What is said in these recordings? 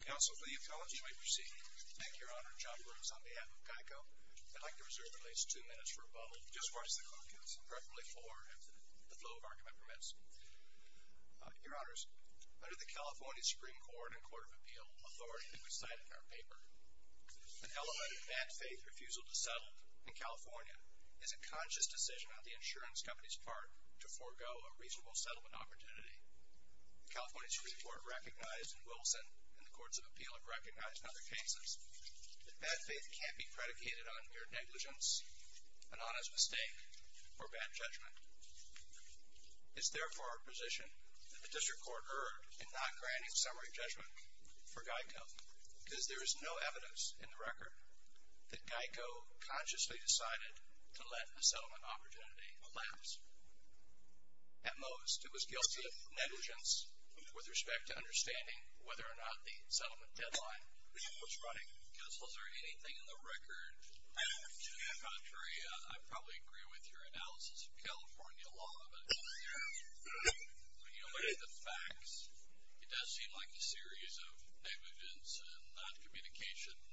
Council, for the apology we proceed. Thank you, Your Honor. John Brooks on behalf of GEICO. I'd like to reserve at least two minutes for rebuttal. Just watch the clock, Council, preferably for the flow of our commitments. Your Honors, under the California Supreme Court and Court of Appeal authority that we cite in our paper, an elevated bad faith refusal to settle in California is a conscious decision on the insurance company's part to forego a reasonable settlement opportunity. The California Supreme Court recognized in Wilson and the Courts of Appeal have recognized in other cases that bad faith can't be predicated on mere negligence, an honest mistake, or bad judgment. It's therefore our position that the District Court erred in not granting summary judgment for GEICO because there is no evidence in the record that GEICO consciously decided to let a settlement opportunity elapse. At most, it was guilty of negligence with respect to understanding whether or not the settlement deadline was running. Council, is there anything in the record to the contrary? I probably agree with your analysis of California law, but when you look at the facts, it does seem like a series of negligence and non-communications.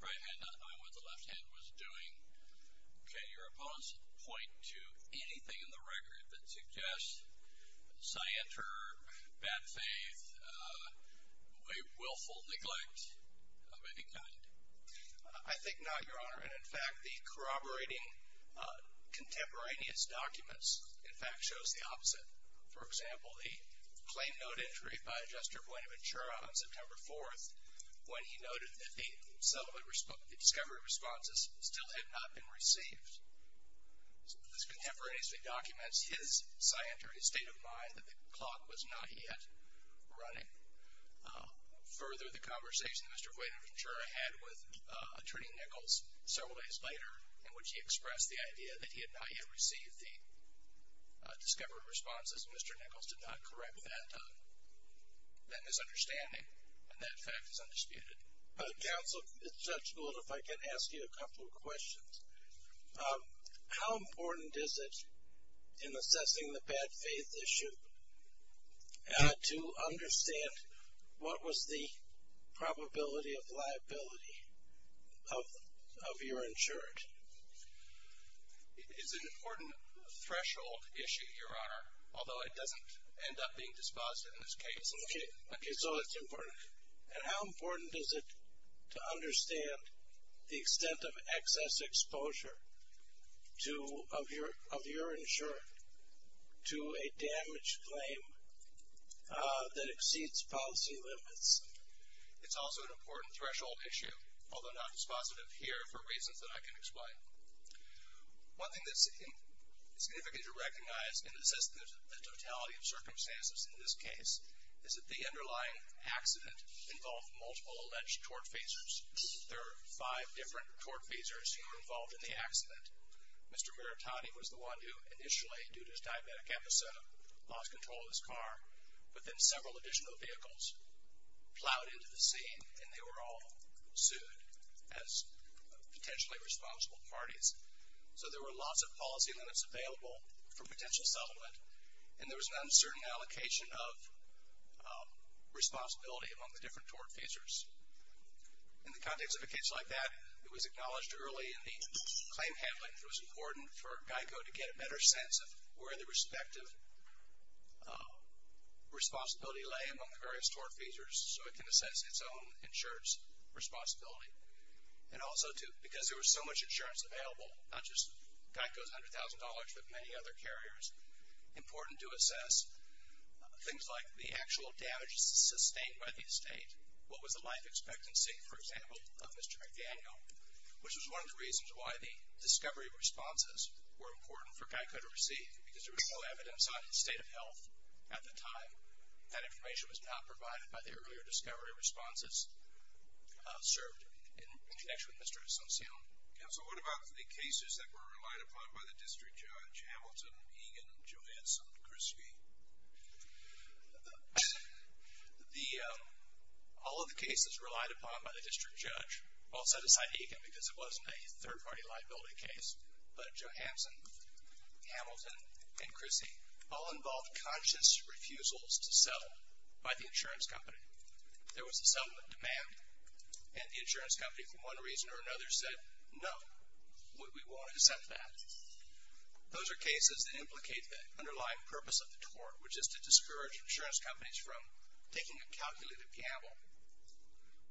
Right hand on what the left hand was doing. Okay, your opponents point to anything in the record that suggests scienter, bad faith, willful neglect of any kind? I think not, Your Honor, and in fact, the corroborating contemporaneous documents, in fact, shows the opposite. For example, the claim note entry by Adjuster Buenaventura on September 4th when he noted that the settlement discovery responses still had not been received. This contemporaneously documents his scienter, his state of mind that the clock was not yet running. Further, the conversation Mr. Buenaventura had with Attorney Nichols several days later in which he expressed the idea that he had not yet received the discovery responses, Mr. Nichols did not correct that misunderstanding, and that fact is undisputed. Counsel Judge Gould, if I can ask you a couple of questions. How important is it in assessing the bad faith issue to understand what was the probability of liability of your insurance? It is an important threshold issue, Your Honor, although it doesn't end up being dispositive in this case. Okay, so that's important, and how important is it to understand the extent of excess exposure of your insurance to a damaged claim that exceeds policy limits? It's also an important threshold issue, although not dispositive here for reasons that I can explain. One thing that's significant to recognize in assessing the totality of circumstances in this case is that the underlying accident involved multiple alleged tort feasors. There are five different tort feasors who were involved in the accident. Mr. Maritani was the one who initially, due to his diabetic episode, lost control of his car, but then several additional vehicles plowed into the scene, and they were all sued as potentially responsible parties. So there were lots of policy limits available for potential settlement, and there was an uncertain allocation of responsibility among the different tort feasors. In the context of a case like that, it was acknowledged early in the claim handling that it was important for GEICO to get a better sense of where the respective responsibility lay among the various tort feasors so it can assess its own insurance responsibility, and also to, because there was so much insurance available, not just GEICO's $100,000 but many other carriers, important to assess things like the actual damage sustained by the estate. What was the life expectancy, for example, of Mr. McDaniel, which was one of the reasons why the discovery responses were important for GEICO to receive, because there was no evidence on his state of health at the time. That information was not provided by the earlier discovery responses served in connection with Mr. Asuncion. Counsel, what about the cases that were relied upon by the district judge, Hamilton, Egan, Johansson, Chrissie? The, all of the cases relied upon by the district judge, all set aside Egan because it wasn't a third-party liability case, but Johansson, Hamilton, and Chrissie, all involved conscious refusals to settle by the insurance company. There was a demand, and the insurance company, for one reason or another, said no, we won't accept that. Those are cases that implicate the underlying purpose of the tort, which is to discourage insurance companies from taking a calculated piano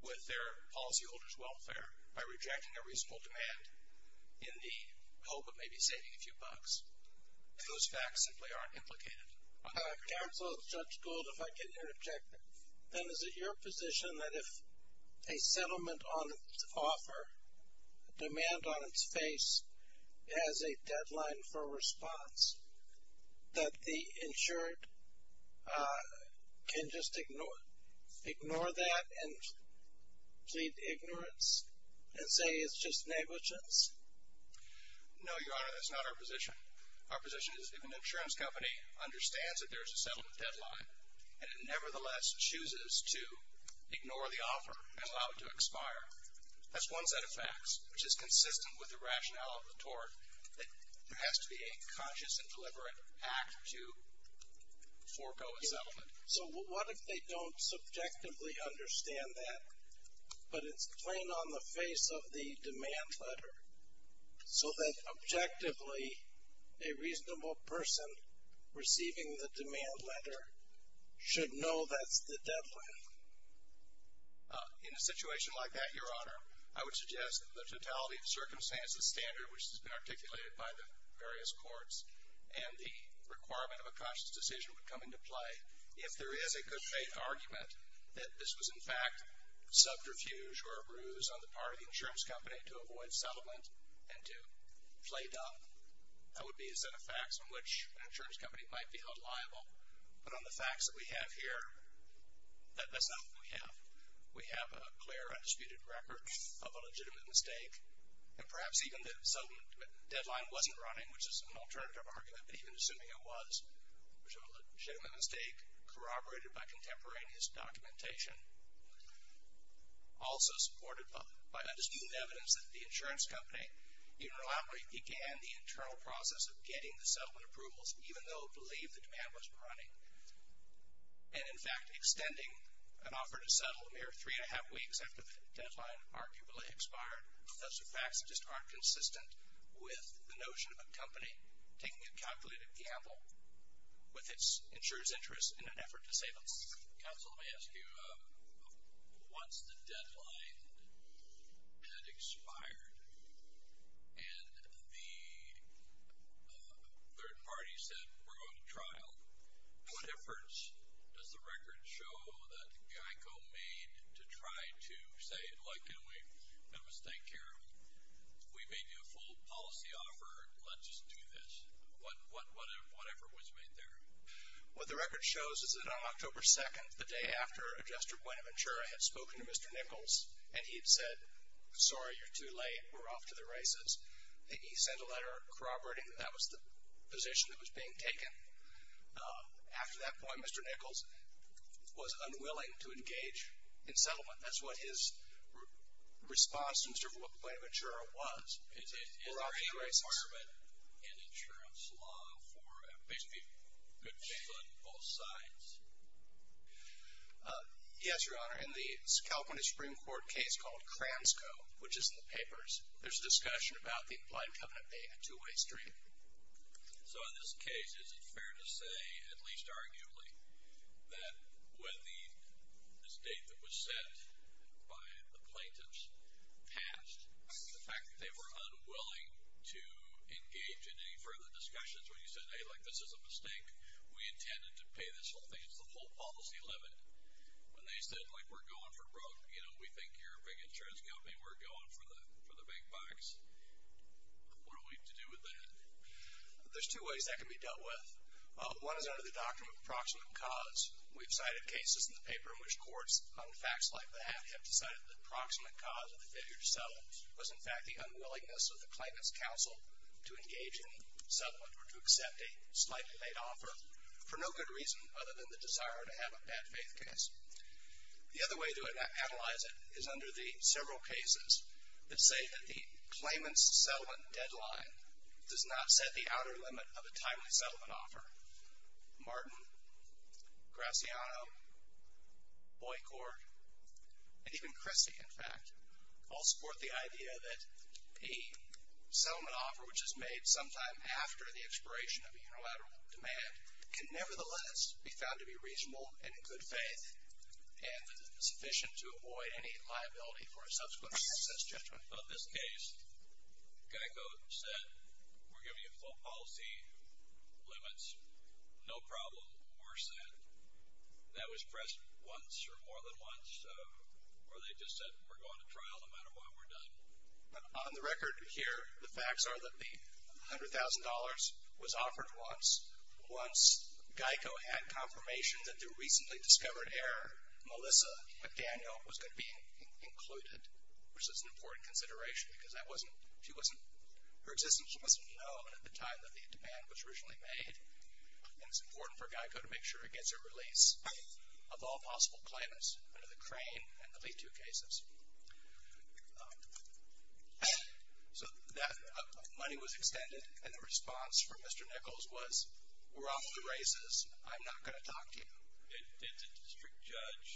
with their policyholders' welfare by rejecting a reasonable demand in the hope of maybe saving a few bucks. Those facts simply aren't implicated. Counsel, Judge Gould, if I can interject, then is it your position that if a settlement on its offer, a demand on its face, has a deadline for a response, that the insured can just ignore, ignore that and plead ignorance and say it's just negligence? No, Your Honor, that's not our position. Our position is if an insurance company understands that there's a settlement deadline, and it nevertheless chooses to ignore the offer and allow it to expire, that's one set of facts, which is consistent with the rationale of the tort, that there has to be a conscious and deliberate act to forego a settlement. So what if they don't subjectively understand that, but it's plain on the face of the demand letter, so that objectively a reasonable person receiving the demand letter should know that's the deadline? In a situation like that, Your Honor, I would suggest the totality of circumstances standard, which has been articulated by the various courts, and the requirement of a conscious decision would come into play if there is a good faith argument that this was in fact subterfuge or a bruise on the part of the insurance company to avoid settlement and to play dumb. That would be a set of facts on which an insurance company might be held liable, but on the facts that we have here, that's not what we have. We have a clear undisputed record of a legitimate mistake, and perhaps even the settlement deadline wasn't running, which is an alternative argument, but even assuming it was, which was a legitimate mistake corroborated by also supported by undisputed evidence that the insurance company interlockingly began the internal process of getting the settlement approvals, even though believed the demand wasn't running, and in fact extending an offer to settle a mere three and a half weeks after the deadline arguably expired, those are facts that just aren't consistent with the notion of a company taking a calculated gamble with its insurer's interest in an effort to save us. Counsel, let me ask you, once the deadline had expired and the third party said, we're going to trial, what difference does the record show that GEICO made to try to say, well, can we make a mistake here? We made you a full policy offer. Let's just do this. What effort was made there? What the record shows is that on October 2nd, the day after Adjuster Buenaventura had spoken to Mr. Nichols, and he had said, sorry, you're too late. We're off to the races. He sent a letter corroborating that that was the position that was being taken. After that point, Mr. Nichols was unwilling to engage in settlement. That's what his response to Buenaventura was. Is there a requirement in insurance law for basically good things on both sides? Yes, your honor. In the California Supreme Court case called Kransko, which is in the papers, there's a discussion about the blind covenant being a two-way street. So in this case, is it fair to say, at least arguably, that when the state that was set by the plaintiffs passed, the fact that they were unwilling to engage in any further discussions when you said, hey, like, this is a mistake. We intended to pay this whole thing. It's the whole policy limit. When they said, like, we're going for broke. You know, we think you're a big insurance company. We're going for the big bucks. What do we have to do with that? There's two ways that can be dealt with. One is under the doctrine of approximate cause. We've cited cases in the have decided the approximate cause of the failure to settle was, in fact, the unwillingness of the claimant's counsel to engage in settlement or to accept a slightly late offer for no good reason other than the desire to have a bad faith case. The other way to analyze it is under the several cases that say that the claimant's settlement deadline does not set the outer limit of a timely And even Christie, in fact, all support the idea that a settlement offer which is made sometime after the expiration of a unilateral demand can nevertheless be found to be reasonable and in good faith and sufficient to avoid any liability for a subsequent excess judgment. On this case, Gettico said, we're giving you full policy limits. No problem. More said. That was pressed once or more than once or they just said, we're going to trial no matter what we're done. On the record here, the facts are that the $100,000 was offered once. Once Geico had confirmation that the recently discovered error, Melissa McDaniel, was going to be included, which is an important consideration because that wasn't, she wasn't, her existence wasn't known at the time that the demand was originally made. And it's important for Geico to make sure it gets a release of all possible claimants under the Crane and the Leetoo cases. So that money was extended and the response from Mr. Nichols was, we're off the races. I'm not going to talk to you. Did the district judge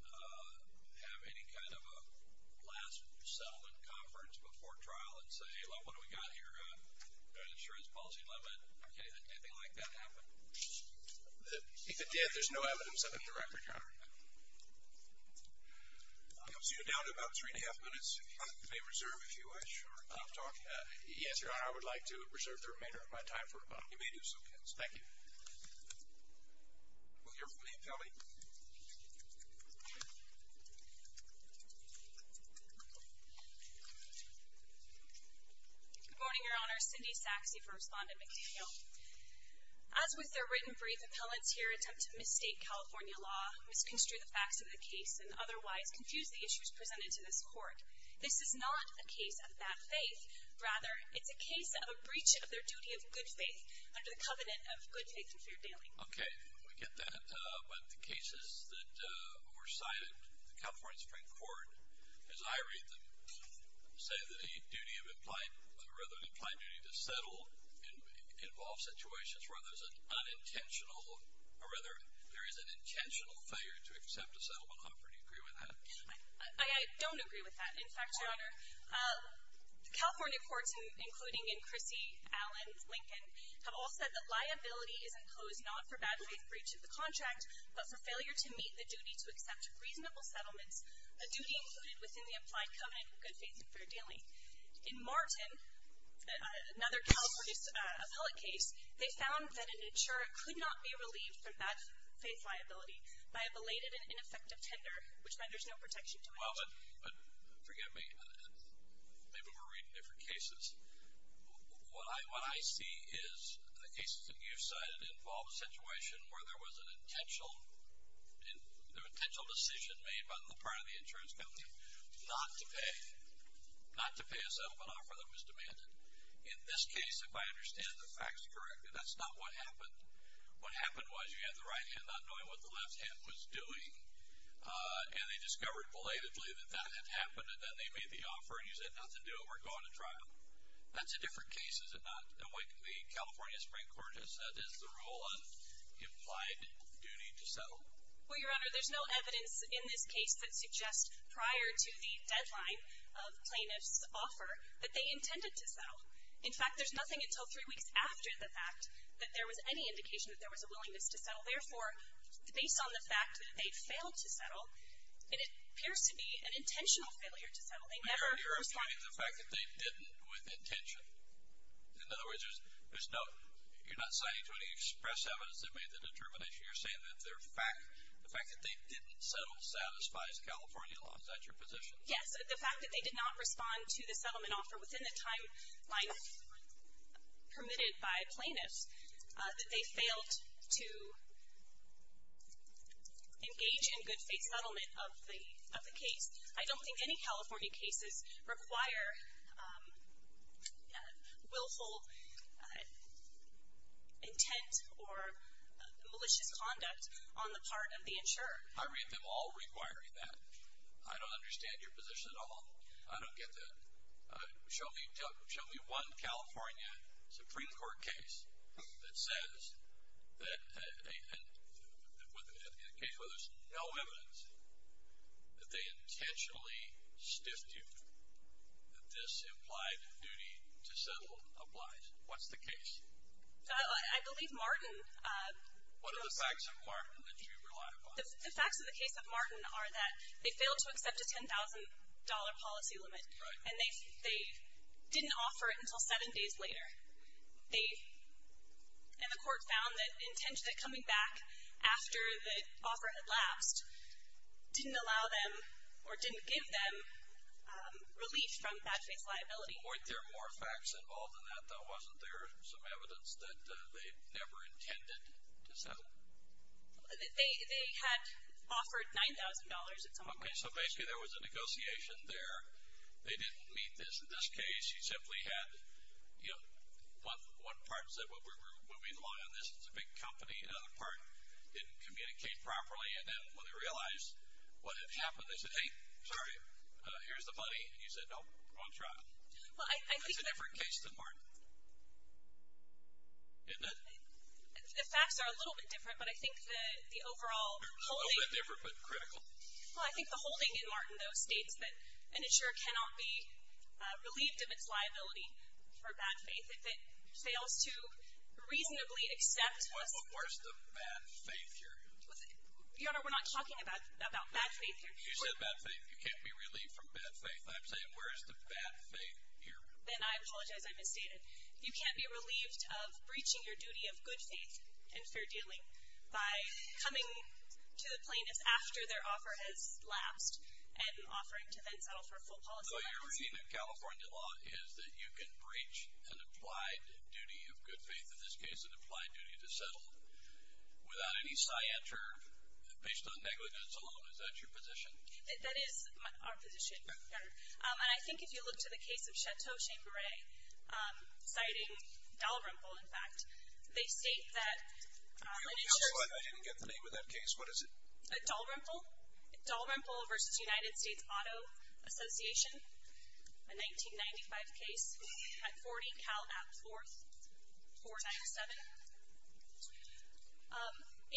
have any kind of a last settlement conference before trial and say, well, what do we got here, an insurance policy limit? Did anything like that happen? If it did, there's no evidence of it in the record, Your Honor. I'll see you down to about three and a half minutes. You may reserve if you wish or not talk. Yes, Your Honor, I would like to reserve the remainder of my time for a moment. You may do so, please. Thank you. We'll hear from the appellate. Good morning, Your Honor. Cindy Saxe, first respondent, McDaniel. As with their written brief, appellants here attempt to mistake California law, misconstrue the facts of the case, and otherwise confuse the issues presented to this court. This is not a case of bad faith. Rather, it's a case of a breach of their duty of good faith under the covenant of good faith and fair bailing. Okay, we get that. But the cases that were cited in the California Supreme Court, as I read them, say that a duty of implied, rather an implied duty to settle, involves situations where there's an unintentional, or rather, there is an intentional failure to accept a settlement offer. Do you agree with that? I don't agree with that. In fact, Your Honor, California courts, including in Chrissy, Allen, Lincoln, have all said that liability is imposed not for bad faith breach of the contract, but for failure to meet the duty to accept reasonable settlements, a duty included within the implied covenant of good faith and fair bailing. In Martin, another California appellate case, they found that an insurer could not be relieved from bad faith liability by a belated and ineffective tender, which renders no protection to an insurer. Well, but forgive me. Maybe we're reading different cases. What I see is the cases that you've cited involve a situation where there was an intentional decision made by the part of the insurance company not to pay, not to pay a settlement offer that was demanded. In this case, if I understand the facts correctly, that's not what happened. What happened was you had the right hand not knowing what the left hand was doing, and they discovered belatedly that that had happened, and then they made the offer, and you said not to do it, we're going to trial. That's a different case, is it Well, Your Honor, there's no evidence in this case that suggests prior to the deadline of plaintiff's offer that they intended to settle. In fact, there's nothing until three weeks after the fact that there was any indication that there was a willingness to settle. Therefore, based on the fact that they'd failed to settle, and it appears to be an intentional failure to settle, they never responded. You're referring to the fact that they didn't with intention. In other words, you're not citing to any express evidence that made the determination. You're saying that the fact that they didn't settle satisfies California law. Is that your position? Yes. The fact that they did not respond to the settlement offer within the timeline permitted by plaintiffs, that they failed to engage in good faith settlement of the case. I don't think any California cases require willful intent or malicious conduct on the part of the insurer. I read them all requiring that. I don't understand your position at all. I don't get that. Show me one California Supreme Court case that says, in a case where there's no evidence, that they intentionally stiffed you, that this implied duty to settle applies. What's the case? I believe Martin- What are the facts of Martin that you rely upon? The facts of the case of Martin are that they failed to accept a $10,000 policy limit, and they didn't offer it until seven days later. And the court found that the intention of coming back after the offer had lapsed didn't allow them or didn't give them relief from bad faith liability. Weren't there more facts involved in that, though? Wasn't there some evidence that they never intended to settle? They had offered $9,000 at some point. So basically, there was a negotiation there. They didn't meet this in this case. You simply had, you know, one part said, well, we're moving along on this. It's a big company. Another part didn't communicate properly. And then when they realized what had happened, they said, hey, sorry, here's the money. And you said, no, wrong trial. It's a different case than Martin. Isn't it? The facts are a little bit different, but I think the overall- A little bit different, but critical. Well, I think the holding in Martin, though, states that an insurer cannot be relieved of its liability for bad faith if it fails to reasonably accept- Well, where's the bad faith here? Your Honor, we're not talking about bad faith here. You said bad faith. You can't be relieved from bad faith. I'm saying, where is the bad faith here? Then I apologize. I misstated. You can't be relieved of breaching your duty of good faith in fair dealing by coming to the plaintiff's after their offer has lapsed and offering to then settle for a full policy- So you're saying that California law is that you can breach an applied duty of good faith, in this case, an applied duty to settle without any sciatur based on negligence alone. Is that your position? That is our position, Your Honor. And I think if you look to the case of Chateau-Chambray, citing Dalrymple, in fact, they state that- Wait a minute. I didn't get the name of that case. What is it? Dalrymple. Dalrymple v. United States Auto Association, a 1995 case at 40 Cal. App. 4497.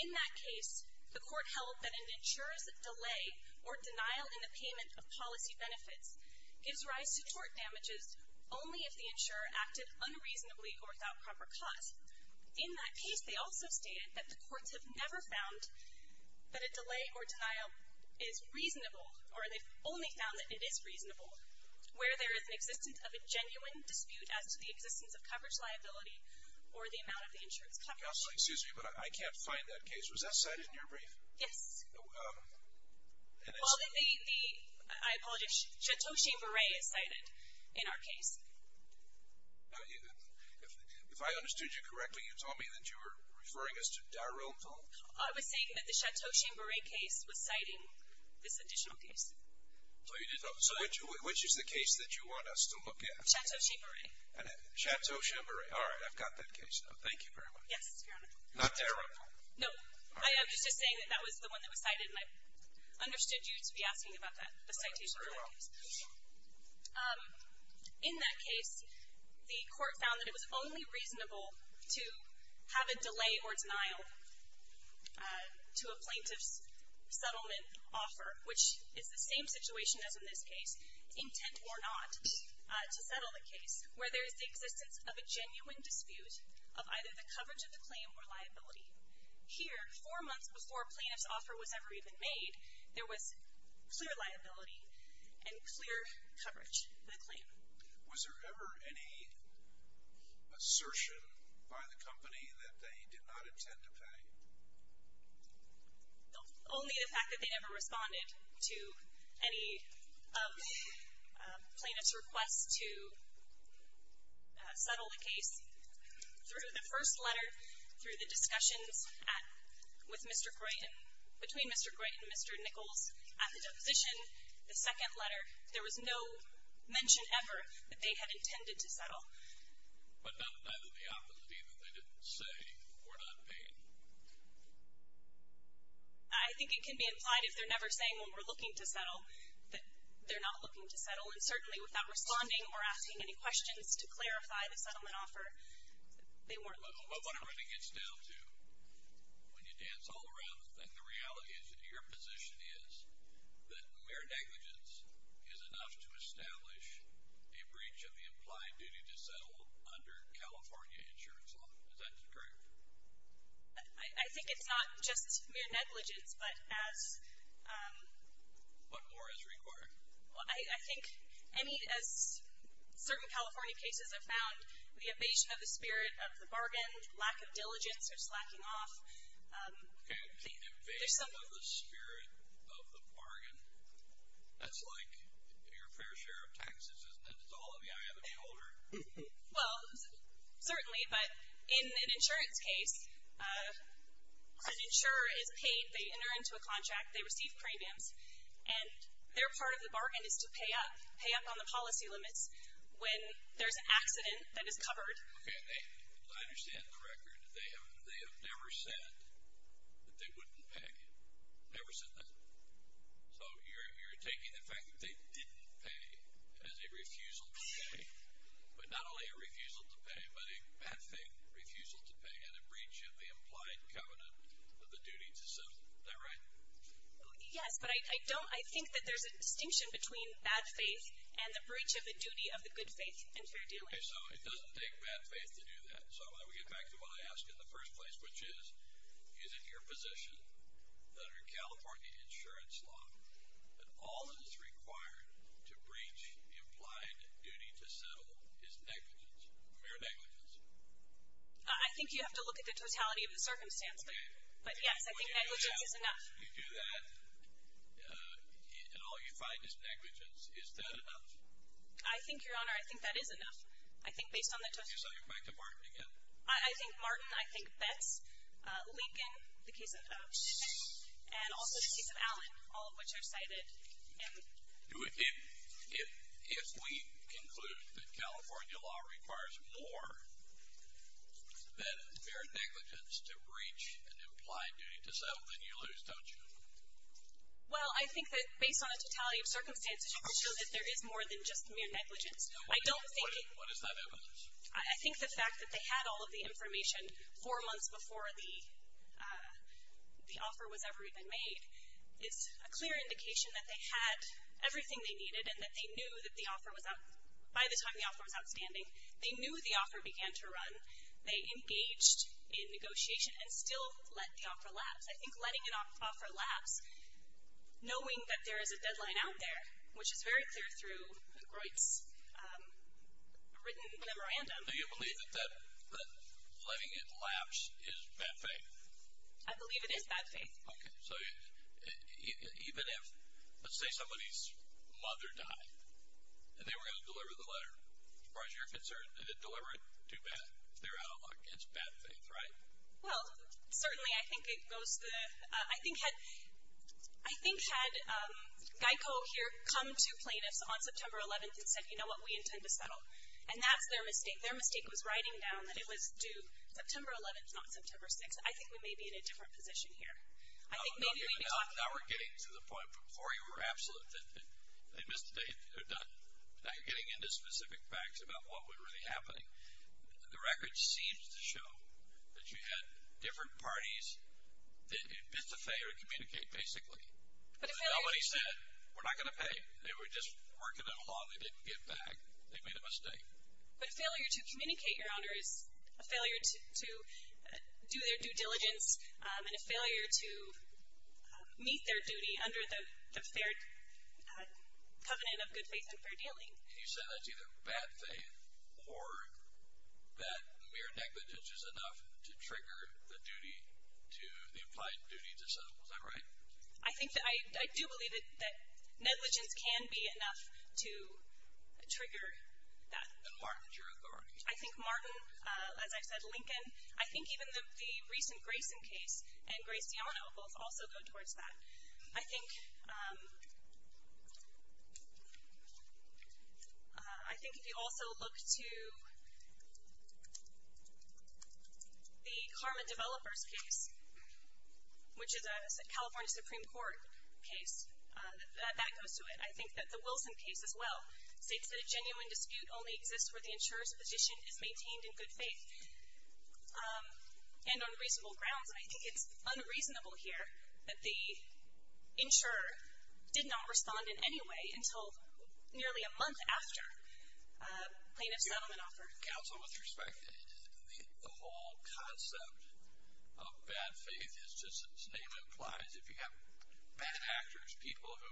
In that case, the court held that an insurer's delay or denial in the payment of policy benefits gives rise to tort damages only if the insurer acted unreasonably or without proper cause. In that case, they also stated that the courts have never found that a delay or denial is reasonable, or they've only found that it is reasonable, where there is an existence of a genuine dispute as to the existence of coverage liability or the amount of the insurer's coverage. Counseling, excuse me, but I can't find that case. Was that cited in your brief? Yes. Well, then the- I apologize. Chateau-Chambray is cited in our case. If I understood you correctly, you told me that you were referring us to Dalrymple. I was saying that the Chateau-Chambray case was citing this additional case. Which is the case that you want us to look at? Chateau-Chambray. Chateau-Chambray. All right. I've got that case now. Thank you very much. Yes, Your Honor. Not Dalrymple? No. I was just saying that that was the one that was cited, and I understood you to be asking about that, the citation for that case. In that case, the court found that it was only reasonable to have a delay or denial to a plaintiff's settlement offer, which is the same situation as in this case, intent or not, to settle the case, where there is the existence of a genuine dispute of either the coverage of the claim or liability. Here, four months before a plaintiff's offer was ever even made, there was clear liability and clear coverage of the claim. Was there ever any assertion by the company that they did not intend to pay? Only the fact that they never responded to any of the plaintiff's requests to settle the case. Through the first letter, through the discussions between Mr. Gray and Mr. Nichols at the deposition, the second letter, there was no mention ever that they had intended to settle. But not either the opposite, either they didn't say or not pay? I think it can be implied if they're never saying when we're looking to settle that they're not looking to settle, and certainly without responding or asking any questions to clarify the settlement offer, they weren't looking to settle. But what it really gets down to, when you dance all around the thing, the reality is that your position is that mere negligence is enough to establish a breach of the implied duty to settle under California insurance law. Is that correct? I think it's not just mere negligence, but as... But more is required. Well, I think, I mean, as certain California cases have found, the evasion of the spirit of the bargain, lack of diligence, or slacking off... Okay, the evasion of the spirit of the bargain, that's like your fair share of taxes, isn't it? It's all in the eye of the beholder. Well, certainly, but in an insurance case, an insurer is paid, they enter into a contract, they receive premiums, and their part of the bargain is to pay up, pay up on the policy limits when there's an accident that is covered. Okay, I understand the record. They have never said that they wouldn't pay, never said that. So you're taking the fact that they didn't pay as a refusal to pay, but not only a refusal to pay, but a bad thing refusal to pay and a breach of the implied covenant of the duty to settle. Is that right? Yes, but I don't, I think that there's a distinction between bad faith and the breach of the duty of the good faith and fair dealing. Okay, so it doesn't take bad faith to do that. So I want to get back to what I asked in the first place, which is, is it your position that under California insurance law that all that is required to breach the implied duty to settle is negligence, mere negligence? I think you have to look at the totality of the circumstance, but yes, I think negligence is enough. You do that, and all you find is negligence. Is that enough? I think, Your Honor, I think that is enough. I think based on the totality. Okay, so I'll get back to Martin again. I think Martin, I think Betts, Lincoln, the case of Oaks, and also the case of Allen, all of which I've cited. If we conclude that California law requires more than mere negligence to breach an implied duty to settle, then you lose, don't you? Well, I think that based on a totality of circumstances, you can show that there is more than just mere negligence. What is that evidence? I think the fact that they had all of the information four months before the offer was ever even made is a clear indication that they had everything they needed and that they knew that the offer was, by the time the offer was outstanding, they knew the offer began to run, they engaged in negotiation, and still let the offer lapse. I think letting it offer lapse, knowing that there is a deadline out there, which is very clear through Groit's written memorandum. Do you believe that letting it lapse is bad faith? I believe it is bad faith. Okay, so even if, let's say somebody's mother died, and they were going to deliver the letter, as far as you're concerned, did it deliver it too bad? They're out against bad faith, right? Well, certainly. I think it goes to the, I think had, I think had Geico here come to plaintiffs on September 11th and said, you know what, we intend to settle. And that's their mistake. Their mistake was writing down that it was due September 11th, not September 6th. I think we may be in a different position here. I think maybe we need to talk. Now we're getting to the point before you were absolute that they missed the date, they're getting into specific facts about what was really happening. The record seems to show that you had different parties that missed the pay or communicate, basically. But a failure to. Nobody said, we're not going to pay. They were just working it along. They didn't give back. They made a mistake. But a failure to communicate, Your Honor, is a failure to do their due diligence, and a failure to meet their duty under the fair covenant of good faith and fair dealing. And you said that's either bad faith or that mere negligence is enough to trigger the duty to, the implied duty to settle. Is that right? I think that, I do believe that negligence can be enough to trigger that. And Martin's your authority. I think Martin, as I've said, Lincoln. I think even the recent Grayson case and Grace DeAnna both also go towards that. I think, I think if you also look to the Karma Developers case, which is a California Supreme Court case, that goes to it. I think that the Wilson case as well states that a genuine dispute only exists where the insurer's position is maintained in good faith. And on reasonable grounds. And I think it's unreasonable here that the insurer did not respond in any way until nearly a month after plaintiff's settlement offer. Counsel, with respect, the whole concept of bad faith is just as its name implies. If you have bad actors, people who,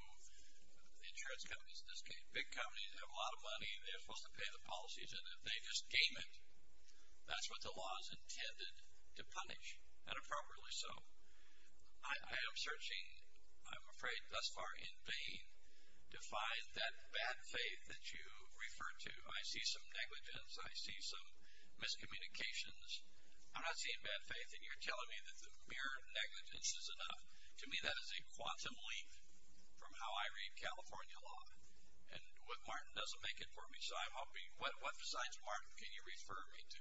insurance companies, big companies have a lot of money. They're supposed to pay the policies. And if they just game it, that's what the law is intended to punish. And appropriately so. I am searching, I'm afraid thus far, in vain to find that bad faith that you refer to. I see some negligence. I see some miscommunications. I'm not seeing bad faith. And you're telling me that the mere negligence is enough. To me, that is a quantum leap from how I read California law. And what Martin doesn't make it for me. What designs of Martin can you refer me to?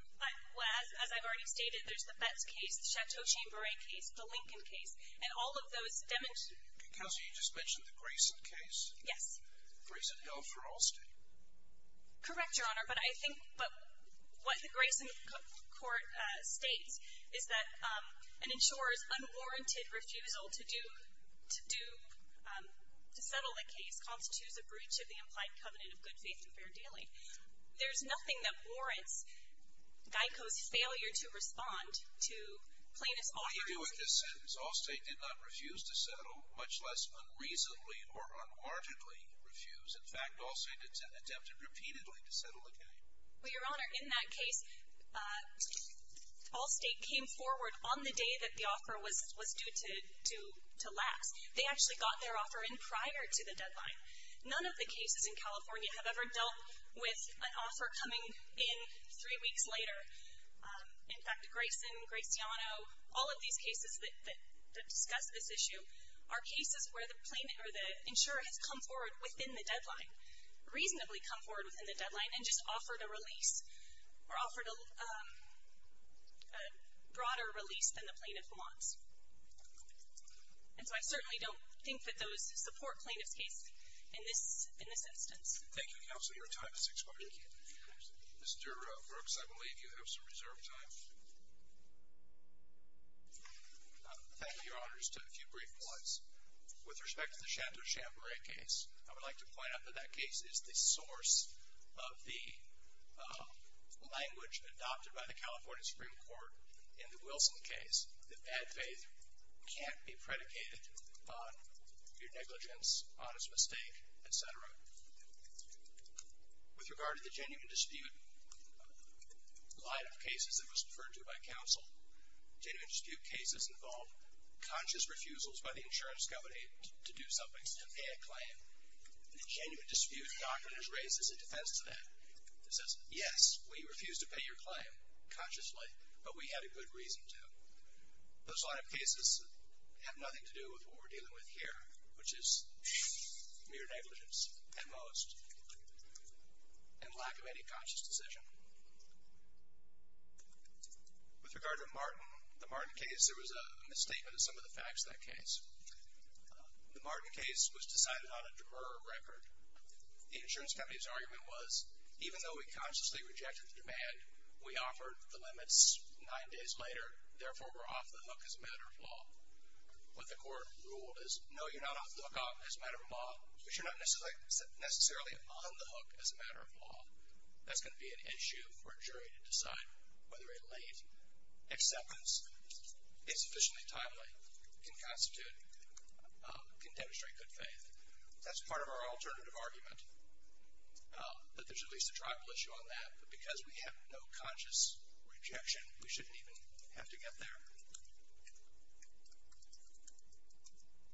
Well, as I've already stated, there's the Betts case, the Chateau Chamberlain case, the Lincoln case. And all of those demonstrate. Counsel, you just mentioned the Grayson case. Yes. Grayson held for all state. Correct, Your Honor. But I think what the Grayson court states is that an insurer's unwarranted refusal to do, to settle the case constitutes a breach of the implied covenant of good faith and fair dealing. There's nothing that warrants Geico's failure to respond to plaintiff's offer. What do you do with this sentence? All state did not refuse to settle, much less unreasonably or unwarrantedly refuse. In fact, all state attempted repeatedly to settle the case. Well, Your Honor, in that case, all state came forward on the day that the offer was due to last. They actually got their offer in prior to the deadline. None of the cases in California have ever dealt with an offer coming in three weeks later. In fact, Grayson, Graciano, all of these cases that discuss this issue are cases where the plaintiff or the insurer has come forward within the deadline, reasonably come forward within the deadline and just offered a release or offered a broader release than the plaintiff wants. And so I certainly don't think that those support plaintiff's case in this instance. Thank you, Counsel. Your time has expired. Mr. Brooks, I believe you have some reserved time. Thank you, Your Honors. Just a few brief points. With respect to the Chateau Chambray case, I would like to point out that that case is the source of the language adopted by the California Supreme Court in the Wilson case. The bad faith can't be predicated on your negligence, honest mistake, etc. With regard to the genuine dispute line of cases that was referred to by counsel, genuine dispute cases involve conscious refusals by the insurance company to do something, to pay a claim. And the genuine dispute document is raised as a defense to that. It says, yes, we refuse to pay your claim, consciously, but we had a good reason to. Those line of cases have nothing to do with what we're dealing with here, which is mere negligence at most and lack of any conscious decision. With regard to the Martin case, there was a misstatement of some of the facts in that case. The Martin case was decided on a drurr record. The insurance company's argument was, even though we consciously rejected the demand, we offered the limits nine days later, therefore, we're off the hook as a matter of law. What the court ruled is, no, you're not off the hook as a matter of law, but you're not necessarily on the hook as a matter of law. That's going to be an issue for a jury to decide whether a late acceptance, insufficiently timely, can constitute, can demonstrate good faith. That's part of our alternative argument, that there's at least a tribal issue on that, but because we have no conscious rejection, we shouldn't even have to get there.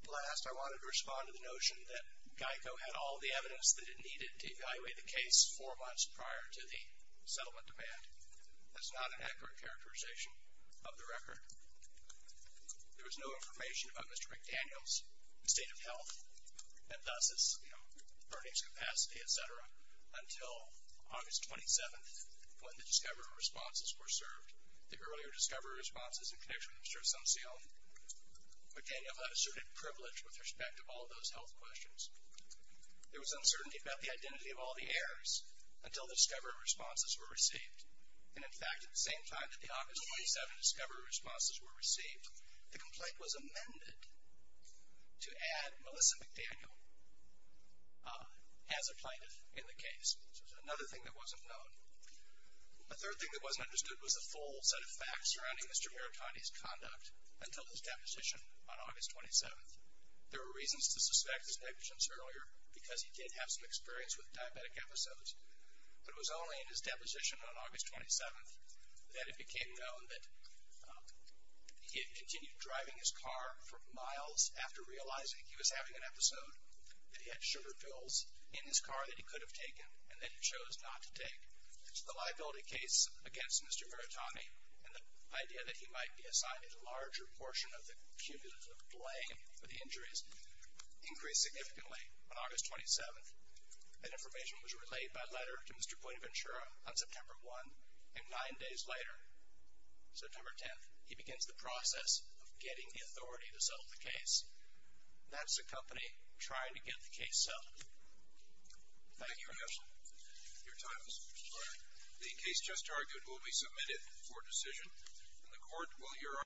Last, I wanted to respond to the notion that GEICO had all the evidence that it needed to evaluate the case four months prior to the settlement demand. That's not an accurate characterization of the record. There was no information about Mr. McDaniel's state of health, and thus, earnings capacity, et cetera, until August 27th, when the discovery responses were served. The earlier discovery responses in connection with Mr. Asuncion, McDaniel had asserted privilege with respect to all those health questions. There was uncertainty about the identity of all the heirs, until the discovery responses were received. And in fact, at the same time that the August 27th discovery responses were received, the complaint was amended to add Melissa McDaniel as a plaintiff in the case, which was another thing that wasn't known. A third thing that wasn't understood was the full set of facts surrounding Mr. Muratani's conduct until his deposition on August 27th. There were reasons to suspect his negligence earlier, because he did have some experience with diabetic episodes, but it was only in his deposition on August 27th that it became known that he had continued driving his car for miles after realizing he was having an episode, that he had sugar pills in his car that he could have taken, and that he chose not to take. So the liability case against Mr. Muratani, and the idea that he might be assigned a larger portion of the cumulative blame for the injuries, increased significantly on August 27th. That information was relayed by letter to Mr. Pointaventura on September 1, and nine days later, September 10th, he begins the process of getting the authority to settle the case. That's the company trying to get the case settled. Thank you.